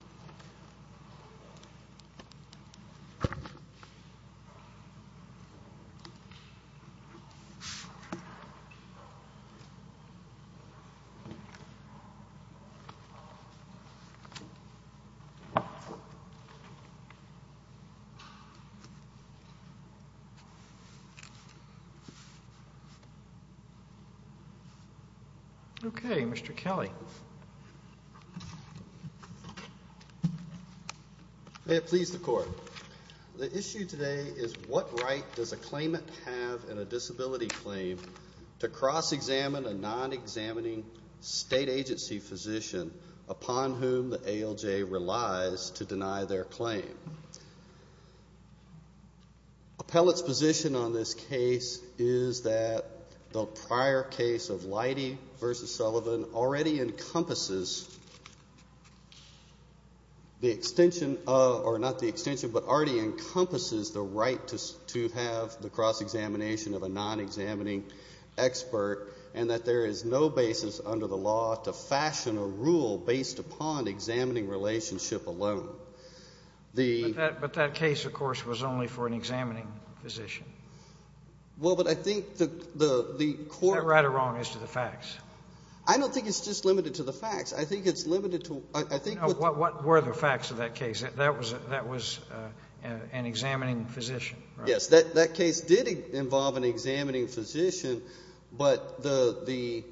Nancy Berryhill, Acting Cmsnr Mr. Kelly. May it please the court. The issue today is what right does a claimant have in a disability claim to cross-examine a non-examining state agency physician upon whom the ALJ relies to deny their claim. Appellate's position on this case is that the prior case of Lighty v. Sullivan already encompasses the extension of, or not the extension, but already encompasses the right to have the cross-examination of a non-examining expert and that there is no basis under the law to fashion a rule based upon examining relationship alone. But that case, of course, was only for an examining physician. Well, but I think the court Is that right or wrong as to the facts? I don't think it's just limited to the facts. I think it's limited to I think What were the facts of that case? That was an examining physician, right? Yes, that case did involve an examining physician, but the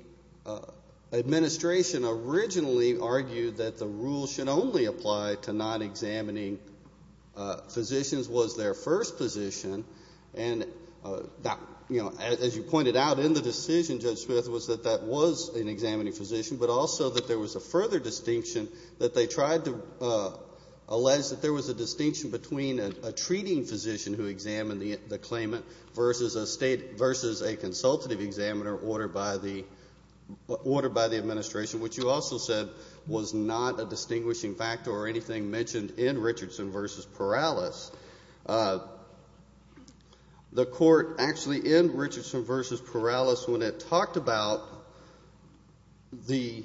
administration originally argued that the rule should only apply to non-examining physicians was their first position and that, as you pointed out in the decision, Judge Smith, was that that was an examining physician, but also that there was a further distinction that they tried to allege that there was a distinction between a treating physician who examined the claimant versus a state, versus a consultative examiner ordered by the administration, which you also said was not a distinguishing factor or anything mentioned in Richardson v. Perales. The court actually, in Richardson v. Perales, when it talked about the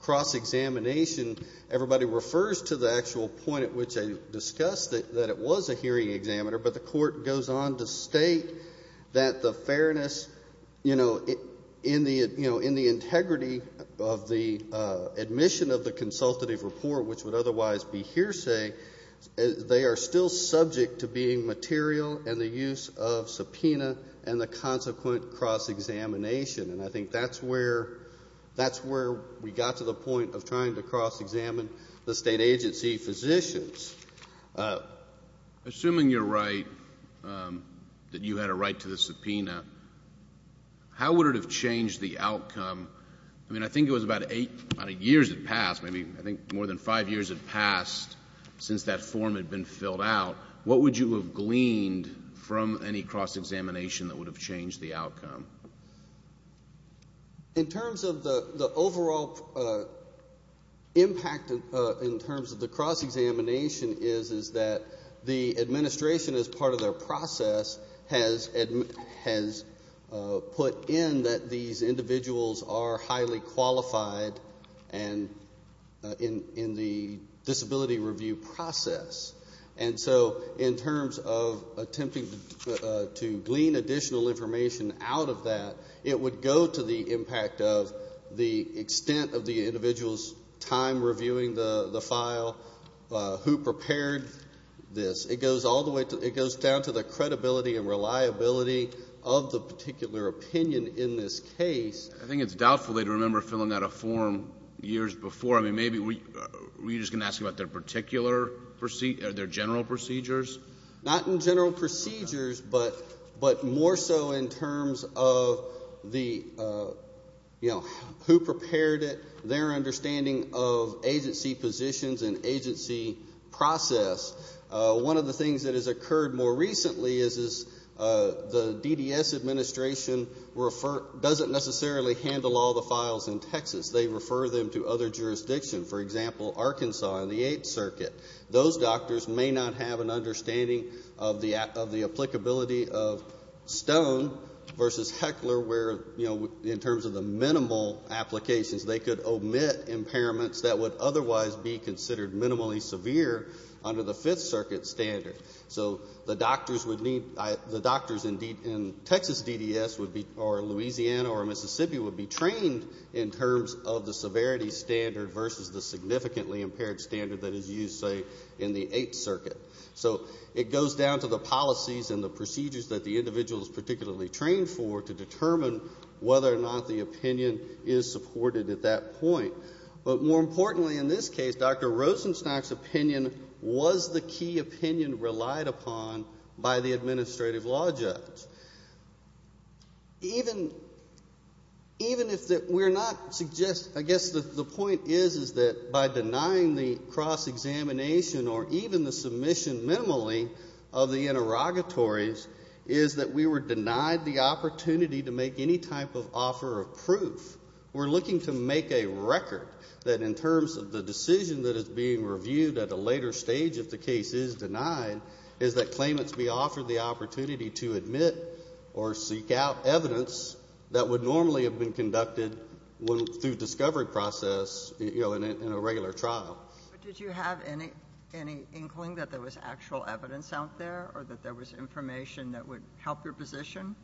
cross-examination, everybody refers to the actual point at which I discussed that it was a hearing examiner, but the court goes on to state that the fairness, you know, in the integrity of the admission of the consultative report, which would otherwise be hearsay, they are still subject to being material and the use of subpoena and the consequent cross-examination, and I think that's where we got to the point of trying to cross-examine the state agency physicians. Assuming you're right, that you had a right to the subpoena, how would it have changed the outcome? I mean, I think it was about eight years had passed, maybe I think more than five years had passed since that form had been filled out. What would you have gleaned from any cross-examination that would have changed the outcome? In terms of the overall impact, in terms of the cross-examination, is that the administration, as part of their process, has put in that these individuals are highly qualified in the disability review process, and so in terms of attempting to glean additional information out of that, it would go to the impact of the extent of the individual's time reviewing the file, who prepared this. It goes all the way to, it goes down to the credibility and reliability of the particular opinion in this case. I think it's doubtful they'd remember filling out a form years before. I mean, maybe, were you just going to ask about their particular, their general procedures? Not in general procedures, but more so in terms of the, you know, who prepared it, their understanding of agency positions and agency process. One of the things that has occurred more recently is the DDS administration doesn't necessarily handle all the files in Texas. They refer them to other jurisdictions, for example, Arkansas and the Eighth Circuit. Those doctors may not have an understanding of the applicability of Stone versus Heckler where, you know, in terms of the minimal applications, they could omit impairments that would otherwise be considered minimally severe under the Fifth Circuit standard. So the doctors would need, the doctors in Texas DDS or Louisiana or Mississippi would be trained in terms of the severity standard versus the significantly impaired standard that is used, say, in the Eighth Circuit. So it goes down to the policies and the procedures that the individual is particularly trained for to determine whether or not the opinion is supported at that point. But more importantly in this case, Dr. Rosenstock's opinion was the key opinion relied upon by the administrative law judge. Even if we're not suggesting, I guess the point is that by denying the cross-examination or even the submission minimally of the interrogatories is that we were denied the opportunity to make any type of offer of proof. We're looking to make a record that in terms of the decision that is being reviewed at a later stage if the case is denied is that claimants be offered the opportunity to admit or seek out evidence that would normally have been conducted through discovery process, you know, in a regular trial. But did you have any inkling that there was actual evidence out there or that there was information that would help your position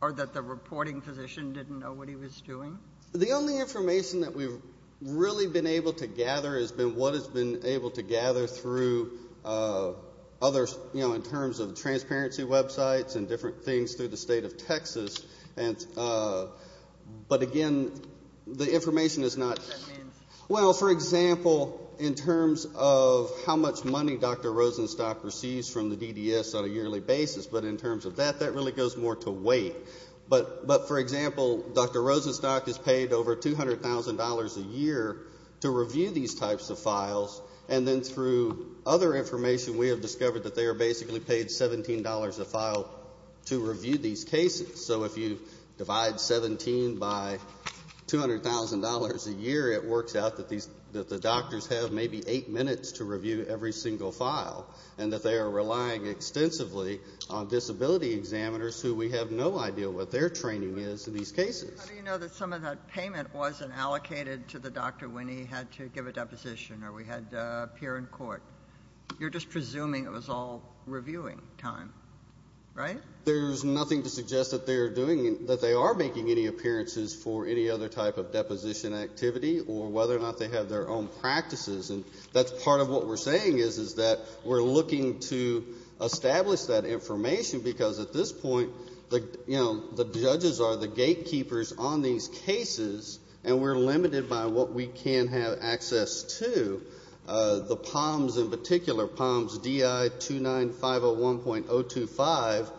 or that the reporting physician didn't know what he was doing? The only information that we've really been able to gather has been what has been able to gather through other, you know, in terms of transparency websites and different things through the state of Texas. But again, the information is not... What does that mean? Well, for example, in terms of how much money Dr. Rosenstock receives from the DDS on a yearly basis, but in terms of that, that really goes more to weight. But for example, Dr. Rosenstock has been through other information. We have discovered that they are basically paid $17 a file to review these cases. So if you divide $17 by $200,000 a year, it works out that the doctors have maybe eight minutes to review every single file and that they are relying extensively on disability examiners who we have no idea what their training is in these cases. How do you know that some of that payment wasn't allocated to the doctor when he had to give a deposition or we had to appear in court? You're just presuming it was all reviewing time, right? There's nothing to suggest that they are making any appearances for any other type of deposition activity or whether or not they have their own practices. And that's part of what we're saying is that we're looking to establish that information because at this point, you know, the judges are the gatekeepers on these cases and we're limited by what we can have access to. The POMS in particular, POMS DI 29501.025,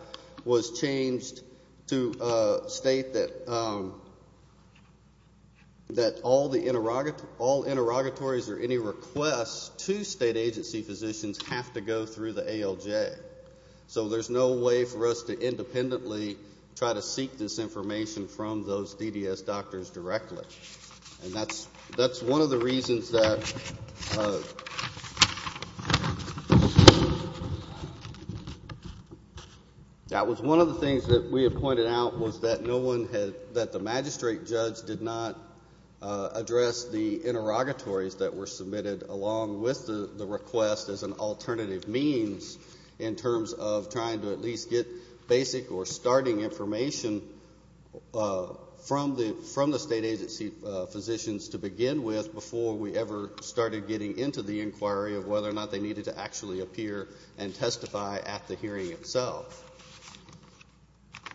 was changed to state that all interrogatories or any requests to state agency physicians have to go through the ALJ. So there's no way for us to independently try to seek this information from those DDS doctors directly. And that's one of the reasons that, that was one of the things that we had pointed out was that no one had, that the magistrate judge did not address the interrogatories that were submitted along with the request as an alternative means in terms of trying to at least get basic or starting information from the, from the state agency physicians to begin with before we ever started getting into the inquiry of whether or not they needed to actually appear and testify at the hearing itself.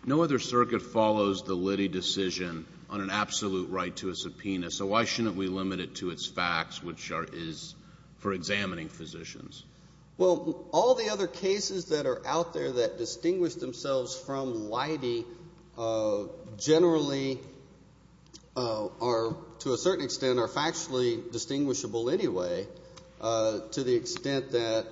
No other circuit follows the Liddy decision on an absolute right to a subpoena. So why shouldn't we limit it to its facts, which are, is for examining physicians? Well all the other cases that are out there that distinguish themselves from Liddy generally are to a certain extent are factually distinguishable anyway to the extent that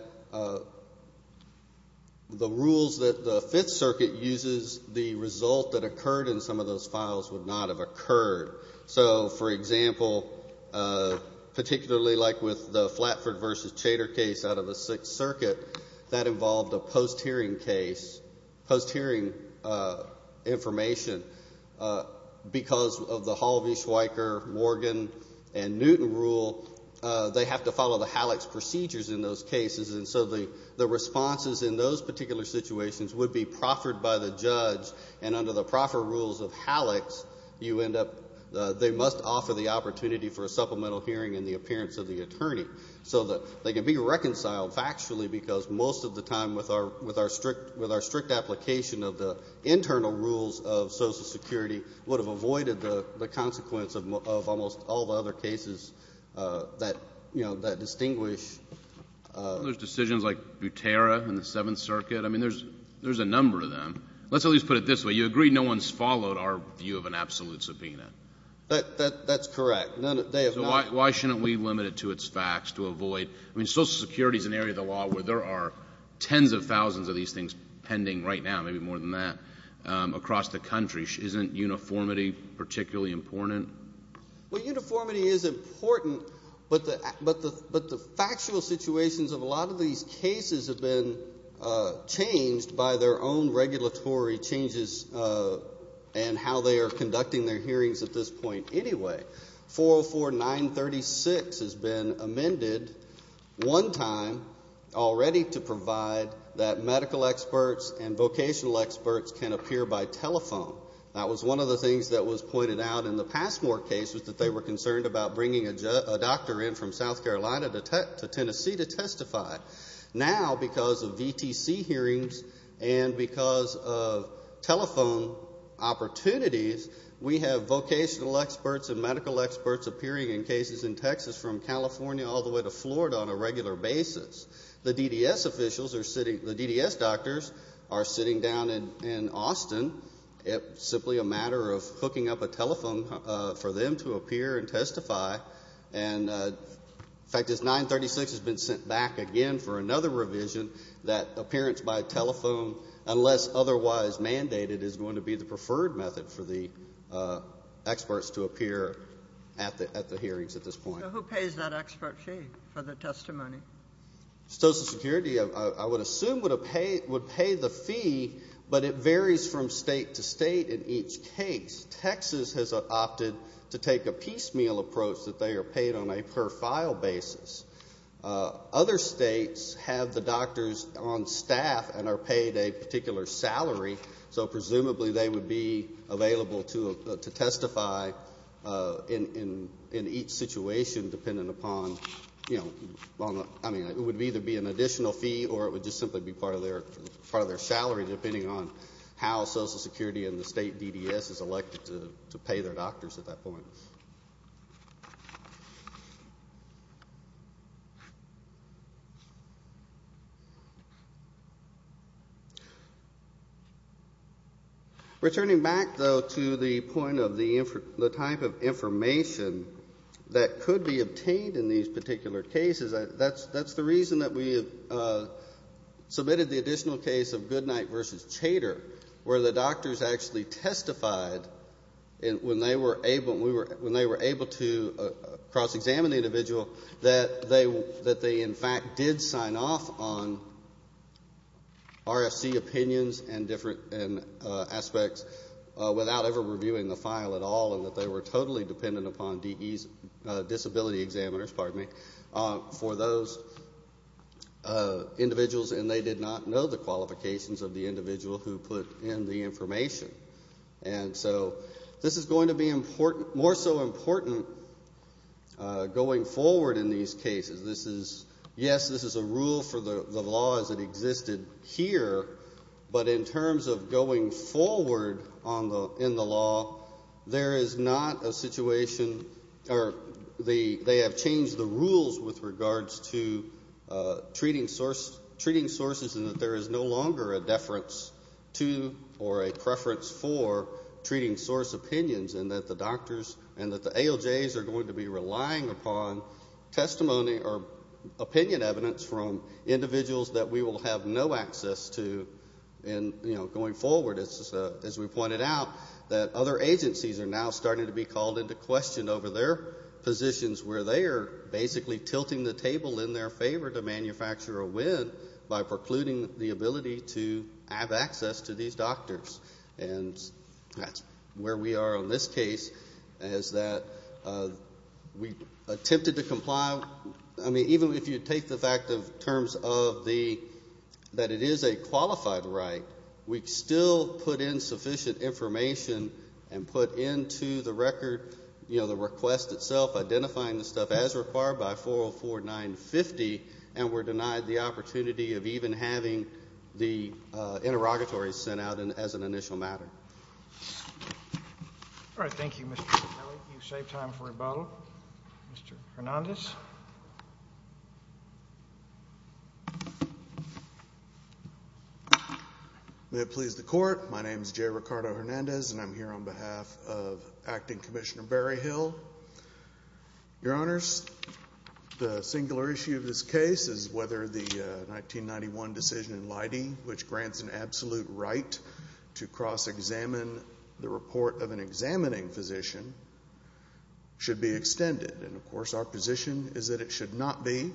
the rules that the Fifth Circuit uses, the result that occurred in some of those files would not have occurred. So for example, particularly like with the Flatford v. Chater case out of the Sixth Circuit, that involved a post-hearing case, post-hearing information, because of the Hall v. Schweiker, Morgan, and Newton rule, they have to follow the Halleck's procedures in those cases and so the responses in those particular situations would be proffered by the judge and under the proffer rules of Halleck's, you end up, they must offer the opportunity for a supplemental hearing in the appearance of the attorney. So that they can be reconciled factually because most of the time with our strict application of the internal rules of Social Security would have avoided the consequence of almost all the other cases that, you know, that distinguish. There's decisions like Butera in the Seventh Circuit. I mean there's a number of them. Let's at least put it this way, you agree no one's followed our view of an absolute subpoena. That's correct. None, they have not. So why shouldn't we limit it to its facts to avoid, I mean Social Security's an area of the law where there are tens of thousands of these things pending right now, maybe more than that, across the country. Isn't uniformity particularly important? Well uniformity is important, but the factual situations of a case have been changed by their own regulatory changes and how they are conducting their hearings at this point anyway. 404-936 has been amended one time already to provide that medical experts and vocational experts can appear by telephone. That was one of the things that was pointed out in the Passmore case was that they were concerned about bringing a doctor in from South Carolina to Tennessee to testify. Now because of VTC hearings and because of telephone opportunities, we have vocational experts and medical experts appearing in cases in Texas from California all the way to Florida on a regular basis. The DDS officials are sitting, the DDS doctors are sitting down in Austin. It's simply a matter of hooking up a telephone for them to appear and testify. In fact, this 936 has been sent back again for another revision that appearance by telephone, unless otherwise mandated, is going to be the preferred method for the experts to appear at the hearings at this point. So who pays that expert fee for the testimony? Social Security I would assume would pay the case. Texas has opted to take a piecemeal approach that they are paid on a per file basis. Other states have the doctors on staff and are paid a particular salary, so presumably they would be available to testify in each situation depending upon, you know, I mean it would either be an additional fee or it would just simply be part of their salary depending on how Social Security and the state DDS is elected to pay their doctors at that point. Returning back though to the point of the type of information that could be obtained in these particular cases, that's the reason that we have submitted the additional case of Goodnight v. Chater, where the doctors actually testified when they were able to cross-examine the individual that they in fact did sign off on RFC opinions and different aspects without ever reviewing the file at all and that they were totally dependent upon DE's disability examiners, pardon me, for those individuals and they did not know the qualifications of the individual who put in the information. And so this is going to be more so important going forward in these cases. Yes, this is a rule for the law as it existed here, but in terms of going forward in the law, there is not a situation or they have changed the rules with regards to treating sources and that there is no longer a deference to or a preference for treating source opinions and that the doctors and that the ALJs are going to be relying upon testimony or opinion evidence from individuals that we will have no access to going forward. As we pointed out, that other agencies are now starting to be called into question over their positions where they are basically tilting the table in their favor to manufacture a win by precluding the ability to have access to these doctors. And that's where we are in this case as that we attempted to comply, I mean, even if you take the fact of terms of the, that it is a qualified right, we still put in sufficient information and put into the record, you know, the request itself, identifying the stuff as required by 404-950 and were denied the opportunity of even having the interrogatory sent out as an initial matter. All right, thank you, Mr. Capelli. You saved time for rebuttal. Mr. Hernandez? May it please the Court, my name is Jay Ricardo Hernandez. I am here on behalf of Acting Commissioner Berryhill. Your Honors, the singular issue of this case is whether the 1991 decision in Leidy, which grants an absolute right to cross-examine the report of an examining physician, should be extended. And, of course, our position is that it should not be.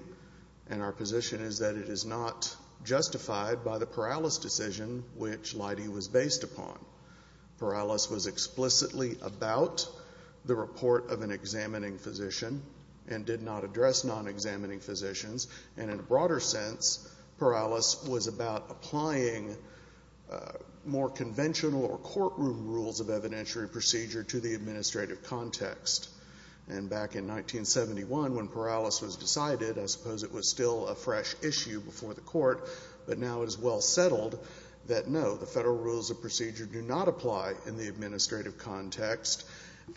And our position is that it is not justified by the Perales decision, which Leidy was based upon. Perales was explicitly about the report of an examining physician and did not address non-examining physicians. And in a broader sense, Perales was about applying more conventional or courtroom rules of evidentiary procedure to the administrative context. And back in 1971, when Perales was decided, I suppose it was still a fresh issue before the Court, but now it is well settled that no, the federal rules of procedure do not apply in the administrative context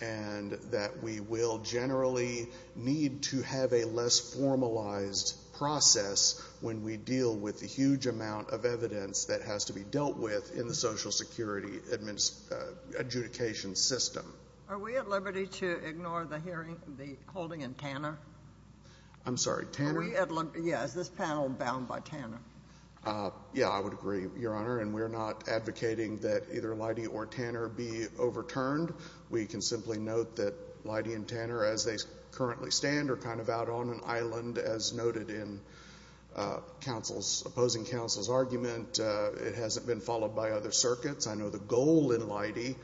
and that we will generally need to have a less formalized process when we deal with the huge amount of evidence that has to be dealt with in the Social Security adjudication system. Are we at liberty to ignore the hearing, the panel bound by Tanner? Yes, I would agree, Your Honor. And we are not advocating that either Leidy or Tanner be overturned. We can simply note that Leidy and Tanner, as they currently stand, are kind of out on an island, as noted in opposing counsel's argument. It hasn't been followed by other circuits. I know the goal in Leidy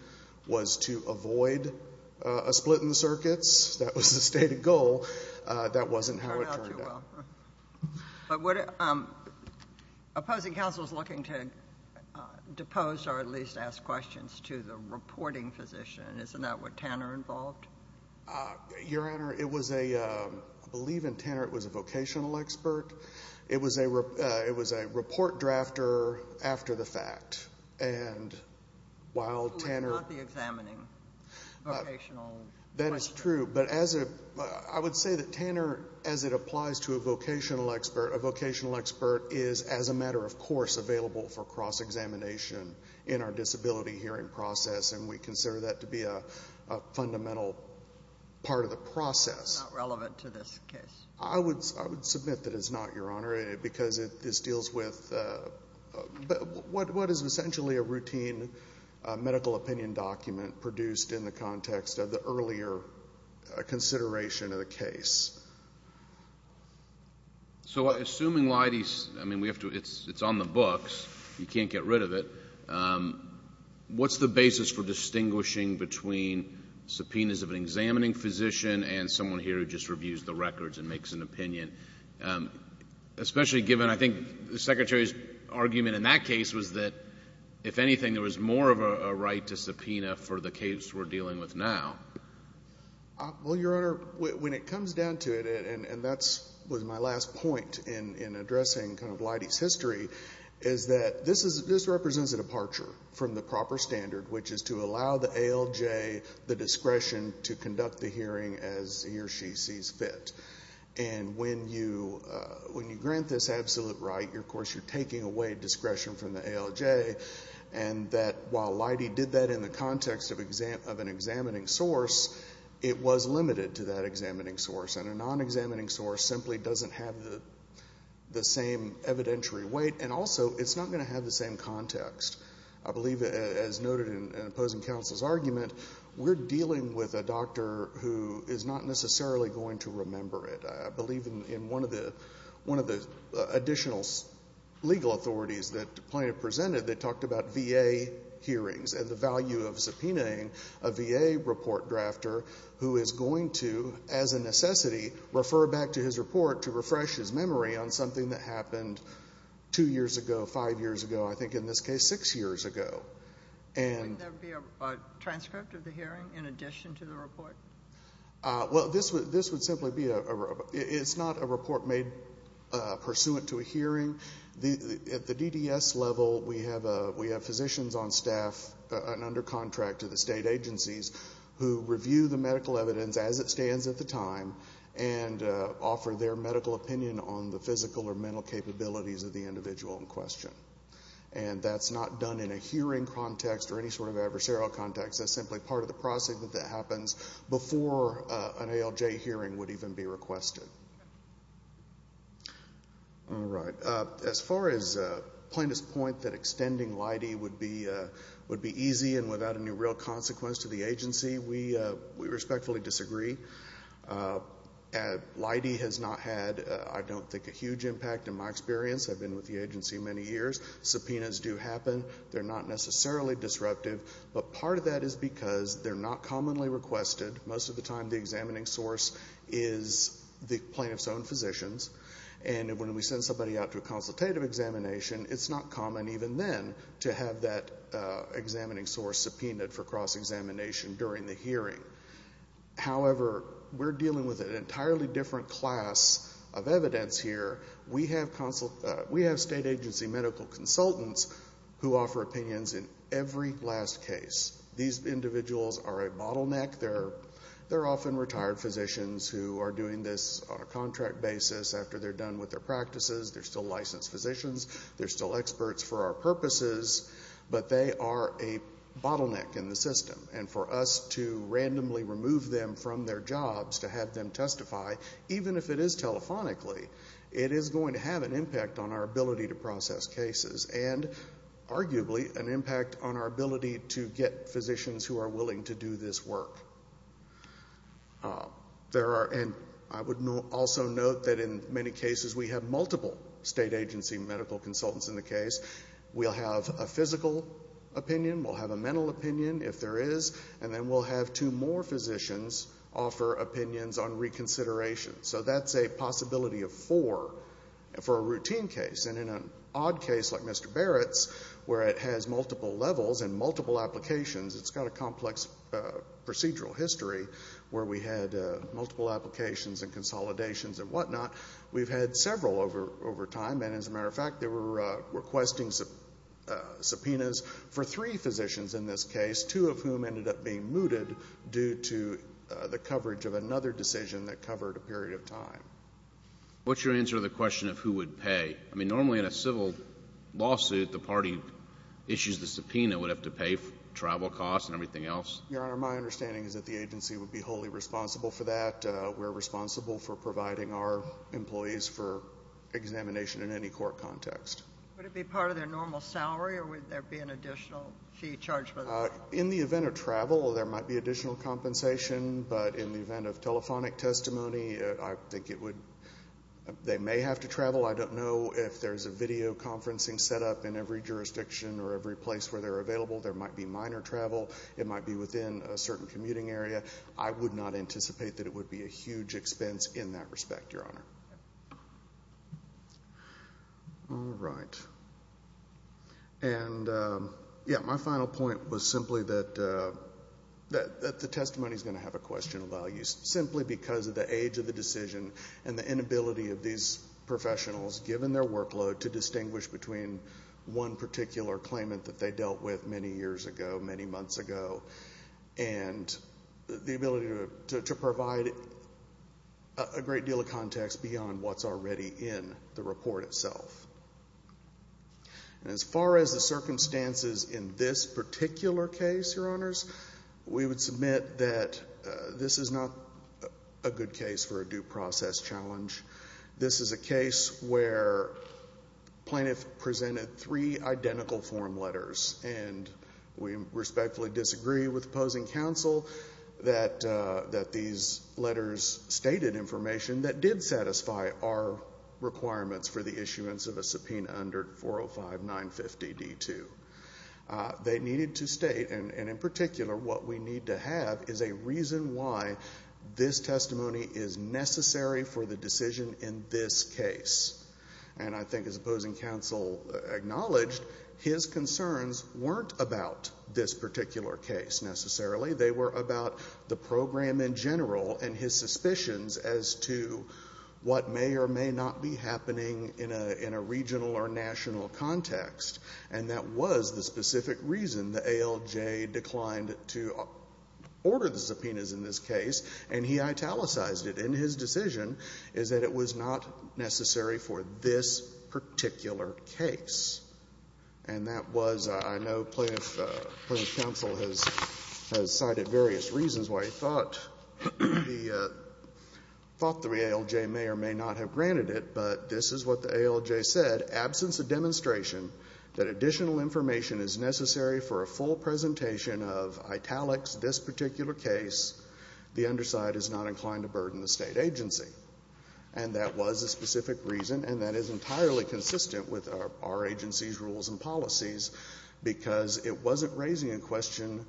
was to avoid a split in the circuits. That was the stated goal. That wasn't how it turned out. Opposing counsel is looking to depose or at least ask questions to the reporting physician. Isn't that what Tanner involved? Your Honor, it was a, I believe in Tanner it was a vocational expert. It was a report drafter after the fact. And while Tanner... Who was not the examining vocational expert? That is true. But as a, I would say that Tanner, as it applies to a vocational expert, a vocational expert is, as a matter of course, available for cross-examination in our disability hearing process. And we consider that to be a fundamental part of the process. Not relevant to this case. I would submit that it's not, Your Honor, because this deals with what is essentially a routine medical opinion document produced in the context of the earlier consideration of the case. So assuming Leidy's, I mean we have to, it's on the books. You can't get rid of it. What's the basis for distinguishing between subpoenas of an examining physician and someone here who just reviews the records and makes an opinion? Especially given, I think the Secretary's argument in that case was that if anything there was more of a right to subpoena for the case we're dealing with now. Well, Your Honor, when it comes down to it, and that was my last point in addressing Leidy's history, is that this represents a departure from the proper standard, which is to allow the ALJ the discretion to conduct the hearing as he or she sees fit. And when you grant this absolute right, of course you're taking away discretion from the ALJ. And that while Leidy did that in the context of an examining source, it was limited to that examining source. And a non-examining source simply doesn't have the same evidentiary weight. And also it's not going to have the same context. I believe, as noted in opposing counsel's argument, we're dealing with a doctor who is not necessarily going to remember it. I believe in one of the additional legal authorities that the plaintiff presented that talked about VA hearings and the value of subpoenaing a VA report drafter who is going to, as a necessity, refer back to his report to refresh his memory on something that happened two years ago, five years ago, I think in this case six years ago. And... Wouldn't there be a transcript of the hearing in addition to the report? Well, this would simply be a... It's not a report made pursuant to a hearing. At the DDS level, we have physicians on staff and under contract to the state agencies who review the medical evidence as it stands at the time and offer their medical opinion on the physical or mental capabilities of the individual in question. And that's not done in a hearing context or any sort of adversarial context. That's simply part of the process that happens before an ALJ hearing would even be requested. All right. As far as plaintiff's point that extending Leidy would be easy and without any real consequence to the agency, we respectfully disagree. Leidy has not had, I don't think, a huge impact in my experience. I've been with the agency many years. Subpoenas do happen. They're not necessarily disruptive. But part of that is because they're not commonly requested. Most of the time the examining source is the plaintiff's own physicians. And when we send somebody out to a consultative examination, it's not common even then to have that examining source subpoenaed for cross-examination during the hearing. However, we're dealing with an entirely different class of evidence here. We have state agency medical consultants who offer opinions in every last case. These individuals are a bottleneck. They're often retired physicians who are doing this on a contract basis after they're done with their practices. They're still licensed physicians. They're still experts for our purposes. But they are a bottleneck in the system. And for us to randomly remove them from their jobs, to have them testify, even if it is telephonically, it is going to have an impact on our ability to process cases. And arguably, an impact on our ability to get physicians who are willing to do this work. I would also note that in many cases we have multiple state agency medical consultants in the case. We'll have a physical opinion. We'll have a mental opinion, if there is. And then we'll have two more physicians offer opinions on reconsideration. So that's a possibility of four for a routine case. And in an odd case like Mr. Barrett's, where it has multiple levels and multiple applications, it's got a complex procedural history where we had multiple applications and consolidations and whatnot. We've had several over time. And as a matter of fact, they were requesting subpoenas for three physicians in this case, two of whom ended up being mooted due to the coverage of another decision that covered a period of time. What's your answer to the question of who would pay? I mean, normally in a civil lawsuit, the party issues the subpoena would have to pay for travel costs and everything else? Your Honor, my understanding is that the agency would be wholly responsible for that. We're responsible for providing our employees for examination in any court context. Would it be part of their normal salary or would there be an additional fee charged? In the event of travel, there might be additional compensation. But in the event of telephonic testimony, I think it would, they may have to travel. I don't know if there's a videoconferencing set up in every jurisdiction or every place where they're available. There might be minor travel. It might be within a certain commuting area. I would not anticipate that it would be a huge expense in that respect, Your Honor. All right. And yeah, my final point was simply that the testimony's going to have a question of value, simply because of the age of the decision and the inability of these professionals, given their workload, to distinguish between one particular claimant that they dealt with many years ago, many months ago, and the ability to provide a great deal of context beyond what's already in the report itself. As far as the circumstances in this particular case, Your Honors, we would submit that this is not a good case for a due process challenge. This is a case where plaintiff presented three identical form letters, and we respectfully disagree with opposing counsel that these letters stated information that did satisfy our requirements for the issuance of a subpoena under 405-950-D2. They needed to state, and in particular, what we need to have is a reason why this testimony is necessary for the decision in this case. And I think, as opposing counsel acknowledged, his concerns weren't about this particular case, necessarily. They were about the program in general and his suspicions as to what may or may not be happening in a regional or national context. And that was the specific reason the ALJ declined to order the subpoenas in this case, and he italicized it in his decision, is that it was not necessary for this particular case. And that was, I know plaintiff counsel has cited various reasons why he thought the ALJ may or may not have granted it, but this is what the ALJ said, absence of demonstration that additional information is necessary for a full presentation of italics, this particular case, the underside is not inclined to burden the State agency. And that was a specific reason, and that is entirely consistent with our agency's rules and policies, because it wasn't raising a question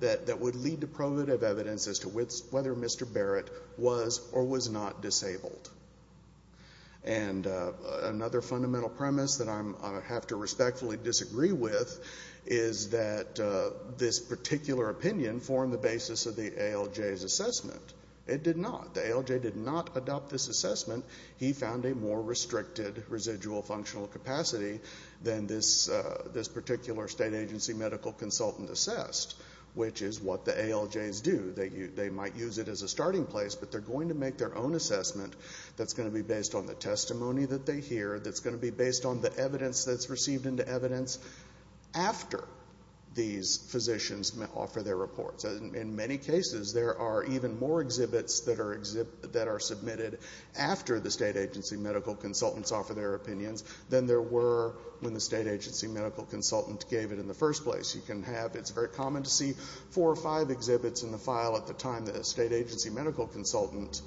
that would lead to provative evidence as to whether Mr. Barrett was or was not disabled. And another fundamental premise that I have to respectfully disagree with is that this particular opinion formed the basis of the ALJ's assessment. It did not. The ALJ did not adopt this assessment. He found a more restricted residual functional capacity than this particular State agency medical consultant assessed, which is what the ALJs do. They might use it as a starting place, but they're going to make their own assessment that's going to be based on the testimony that they hear, that's going to be based on the evidence that's received into evidence after these physicians offer their reports. In many cases, there are even more exhibits that are submitted after the State agency medical consultants offer their opinions than there were when the State agency medical consultant gave it in the first place. You can have, it's very common to see four or five exhibits in a file at the time that a State agency medical consultant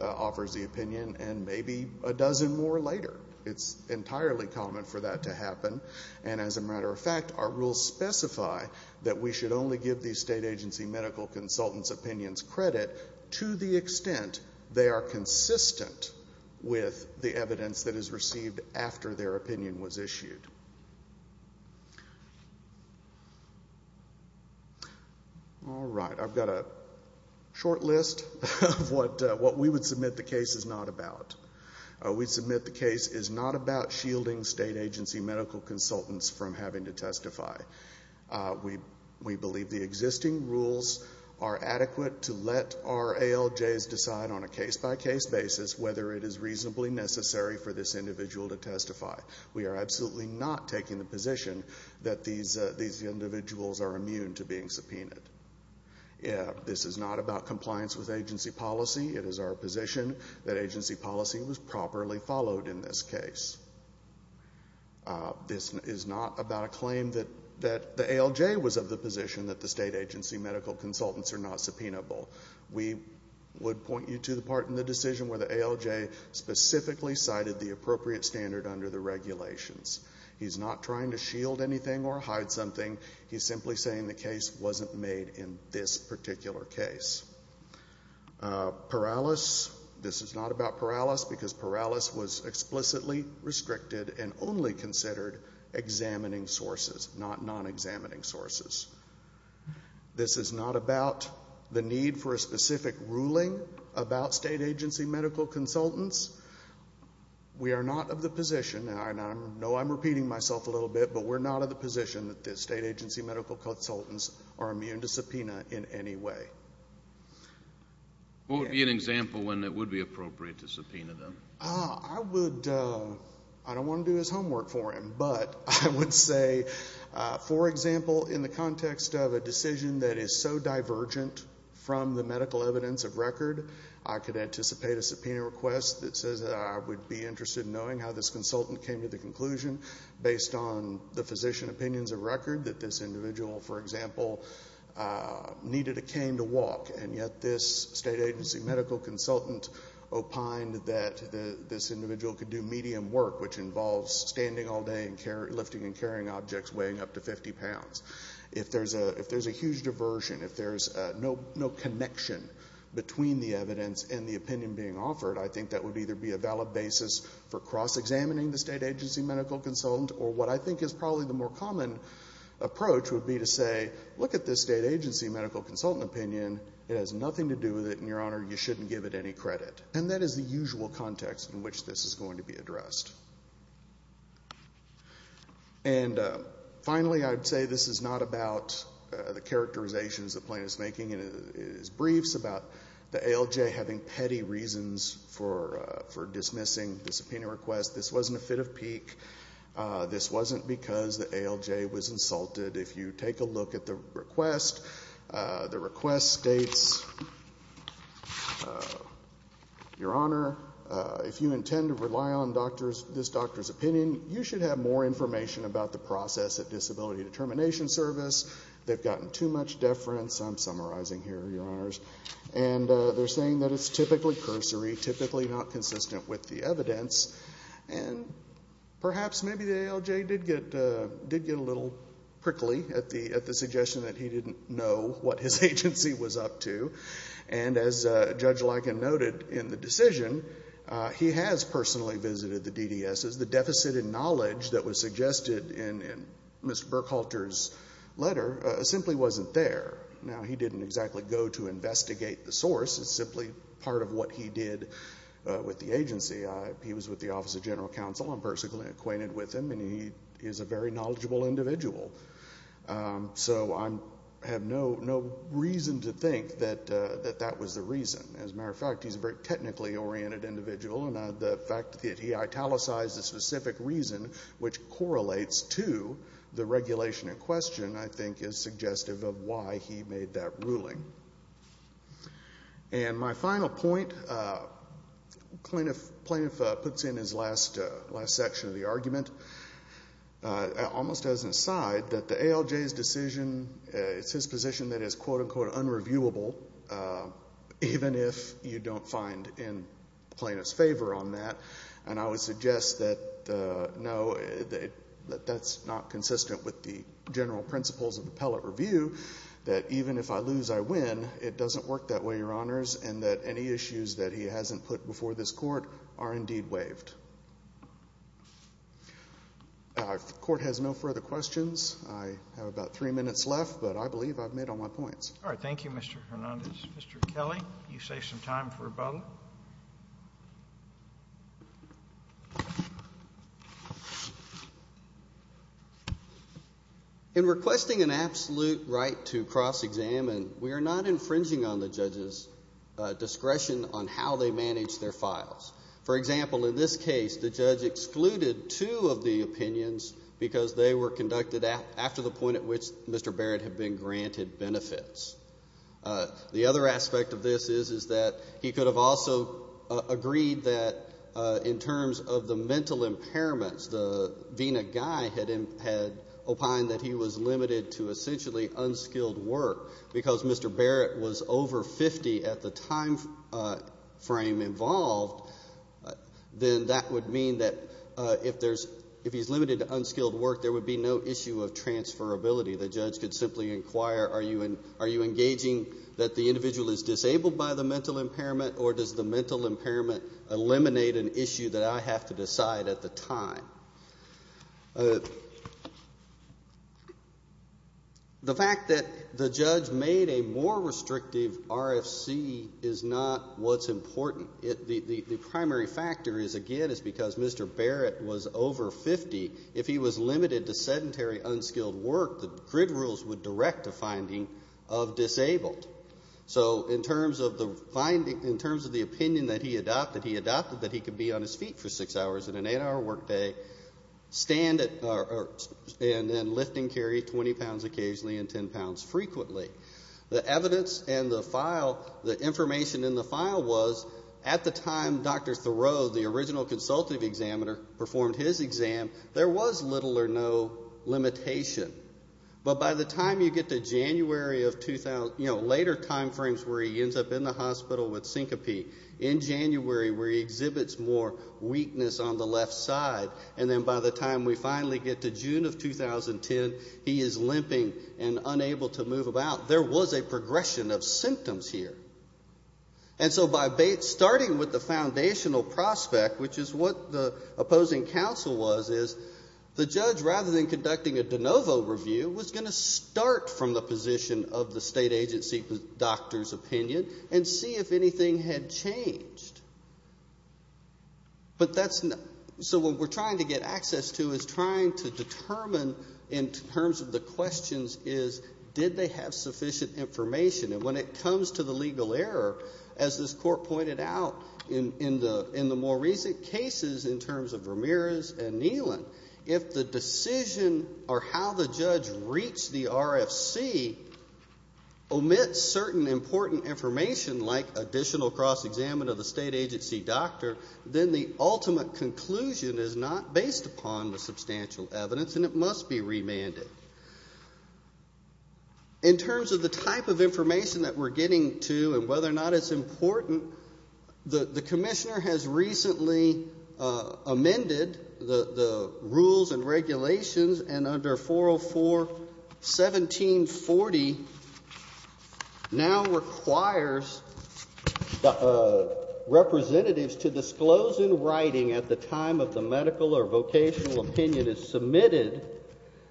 offers the opinion, and maybe a dozen more later. It's entirely common for that to happen. And as a matter of fact, our rules specify that we should only give the State agency medical consultant's opinions credit to the extent they are consistent with the evidence that is received after their We've got a short list of what we would submit the case is not about. We submit the case is not about shielding State agency medical consultants from having to testify. We believe the existing rules are adequate to let our ALJs decide on a case-by-case basis whether it is reasonably necessary for this individual to testify. We are absolutely not taking the This is not about compliance with agency policy. It is our position that agency policy was properly followed in this case. This is not about a claim that the ALJ was of the position that the State agency medical consultants are not subpoenable. We would point you to the part in the decision where the ALJ specifically cited the appropriate standard under the regulations. He's not trying to shield anything or hide something. He's simply saying the case wasn't made in this particular case. Paralysis, this is not about paralysis because paralysis was explicitly restricted and only considered examining sources, not non-examining sources. This is not about the need for a specific ruling about State agency medical consultants. We are not of the position, and I know I'm repeating myself a little bit, but we're not of the position that the State agency medical consultants are immune to subpoena in any way. What would be an example when it would be appropriate to subpoena them? I would, I don't want to do his homework for him, but I would say, for example, in the context of a decision that is so divergent from the medical evidence of record, I could anticipate a subpoena request that says I would be interested in knowing how this consultant came to the conclusion, based on the physician opinions of record, that this individual, for example, needed a cane to walk, and yet this State agency medical consultant opined that this individual could do medium work, which involves standing all day and lifting and carrying objects weighing up to 50 pounds. If there's a huge diversion, if there's no connection between the evidence and the opinion being offered, I think that would either be a valid basis for cross-examining the State agency medical consultant, or what I think is probably the more common approach would be to say, look at this State agency medical consultant opinion. It has nothing to do with it, and, Your Honor, you shouldn't give it any credit. And that is the usual context in which this is going to be addressed. And finally, I would say this is not about the characterizations that Plaintiff's making in his briefs, about the ALJ having petty reasons for dismissing the subpoena request. This wasn't a fit of pique. This wasn't because the ALJ was insulted. If you take a look at the request, the request states, Your Honor, if you intend to rely on this doctor's opinion, you should have more information about the process at Disability Determination Service. They've gotten too much deference. I'm summarizing here, Your Honors. And they're saying that it's typically cursory, typically not consistent with the evidence. And perhaps maybe the ALJ did get a little prickly at the suggestion that he didn't know what his agency was up to. And as Judge Liken noted in the decision, he has personally visited the DDSs. The deficit in knowledge that was suggested in Mr. Burkhalter's letter simply wasn't there. Now, he didn't exactly go to investigate the source. It's simply part of what he did with the agency. He was with the Office of General Counsel. I'm personally acquainted with him. And he is a very knowledgeable individual. So I have no reason to think that that was the reason. As a matter of fact, he's a very technically oriented individual. And the fact that he italicized the specific reason, which correlates to the regulation in question, I think is suggestive of why he made that ruling. And my final point, Plaintiff puts in his last section of the argument, almost as an aside, that the ALJ's decision, it's his position that it's quote, unquote, unreviewable, even if you don't find in Plaintiff's favor on that. And I would suggest that, no, that's not consistent with the general principles of the Pellet Review, that even if I lose, I win. It doesn't work that way, Your Honors, and that any issues that he hasn't put before this Court are indeed waived. If the Court has no further questions, I have about three minutes left, but I believe I've made all my points. All right. Thank you, Mr. Hernandez. Mr. Kelly, you save some time for rebuttal. In requesting an absolute right to cross-examine, we are not infringing on the judge's discretion on how they manage their files. For example, in this case, the judge excluded two of the opinions because they were conducted after the point at which Mr. Barrett had been granted benefits. The other aspect of this is, is that he could have also agreed that in terms of the mental impairments, the VINA guy had opined that he was limited to essentially unskilled work. Because Mr. Barrett was over 50 at the time frame involved, then that would mean that if there's, if he's limited to unskilled work, there would be no issue of transferability. The judge could simply inquire, are you, are you engaging that the individual is disabled by the mental impairment or does the mental impairment eliminate an issue that I have to decide at the time? The fact that the judge made a more restrictive RFC is not what's important. It, the primary factor is, again, is because Mr. Barrett was over 50. If he was limited to sedentary unskilled work, the grid rules would direct a finding of disabled. So in terms of the finding, in terms of the opinion that he adopted, he adopted that he could be on his feet for six hours in an eight-hour workday, stand at, or, and then lift and carry 20 pounds occasionally and 10 pounds frequently. The evidence and the file, the information in the file was, at the time Dr. Thoreau, the original consultative examiner, performed his exam, there was little or no limitation. But by the time you get to January of 2000, you know, later timeframes where he ends up in the hospital with syncope, in January where he exhibits more weakness on the left side, and then by the time we finally get to June of 2010, he is limping and unable to move about. There was a progression of symptoms here. And so by starting with the foundational prospect, which is what the opposing counsel was, is the judge, rather than conducting a de novo review, was going to start from the position of the state agency doctor's opinion and see if anything had changed. But that's not, so what we're trying to get access to is trying to determine, in terms of the questions, is did they have sufficient information? And when it comes to the legal error, as this court pointed out in the more recent cases in terms of Ramirez and Neelan, if the decision or how the judge reached the RFC omits certain important information, like additional cross-examination of the state agency doctor, then the ultimate conclusion is not based upon the substantial evidence and it must be remanded. In terms of the type of information that we're getting to and whether or not it's important, the commissioner has recently amended the rules and regulations and under 404.17.40 now requires representatives to disclose in writing at the time of the hearing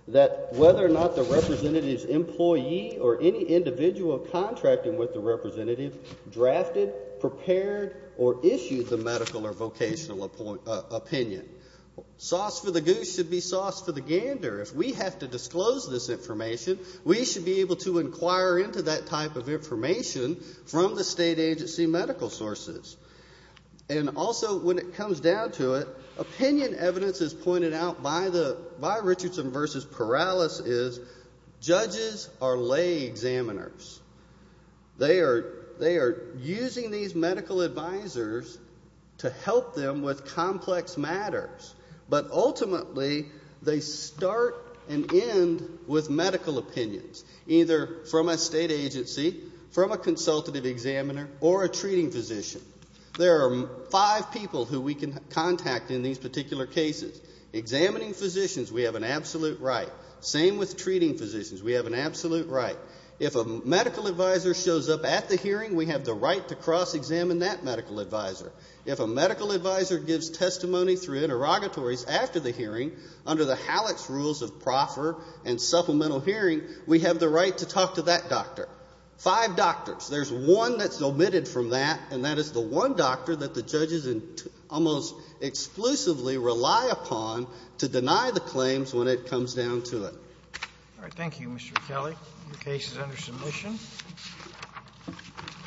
that whether or not the representative's employee or any individual contracting with the representative drafted, prepared, or issued the medical or vocational opinion. Sauce for the goose should be sauce for the gander. If we have to disclose this information, we should be able to inquire into that type of information from the state agency medical sources. And also, when it comes down to it, opinion evidence as pointed out by the, by Richardson v. Perales is judges are lay examiners. They are, they are using these medical advisors to help them with complex matters, but ultimately they start and end with medical opinions, either from a state agency, from a consultative examiner, or a treating physician. There are five people who we can contact in these particular cases. Examining physicians, we have an absolute right. Same with treating physicians. We have an absolute right. If a medical advisor shows up at the hearing, we have the right to cross-examine that medical advisor. If a medical advisor gives testimony through interrogatories after the hearing, under the HALEX rules of proffer and supplemental hearing, we have the right to talk to that doctor. Five doctors. There's one that's omitted from that, and that is the one doctor that the judges almost exclusively rely upon to deny the claims when it comes down to it. All right. Thank you, Mr. McKellie. Your case is under submission.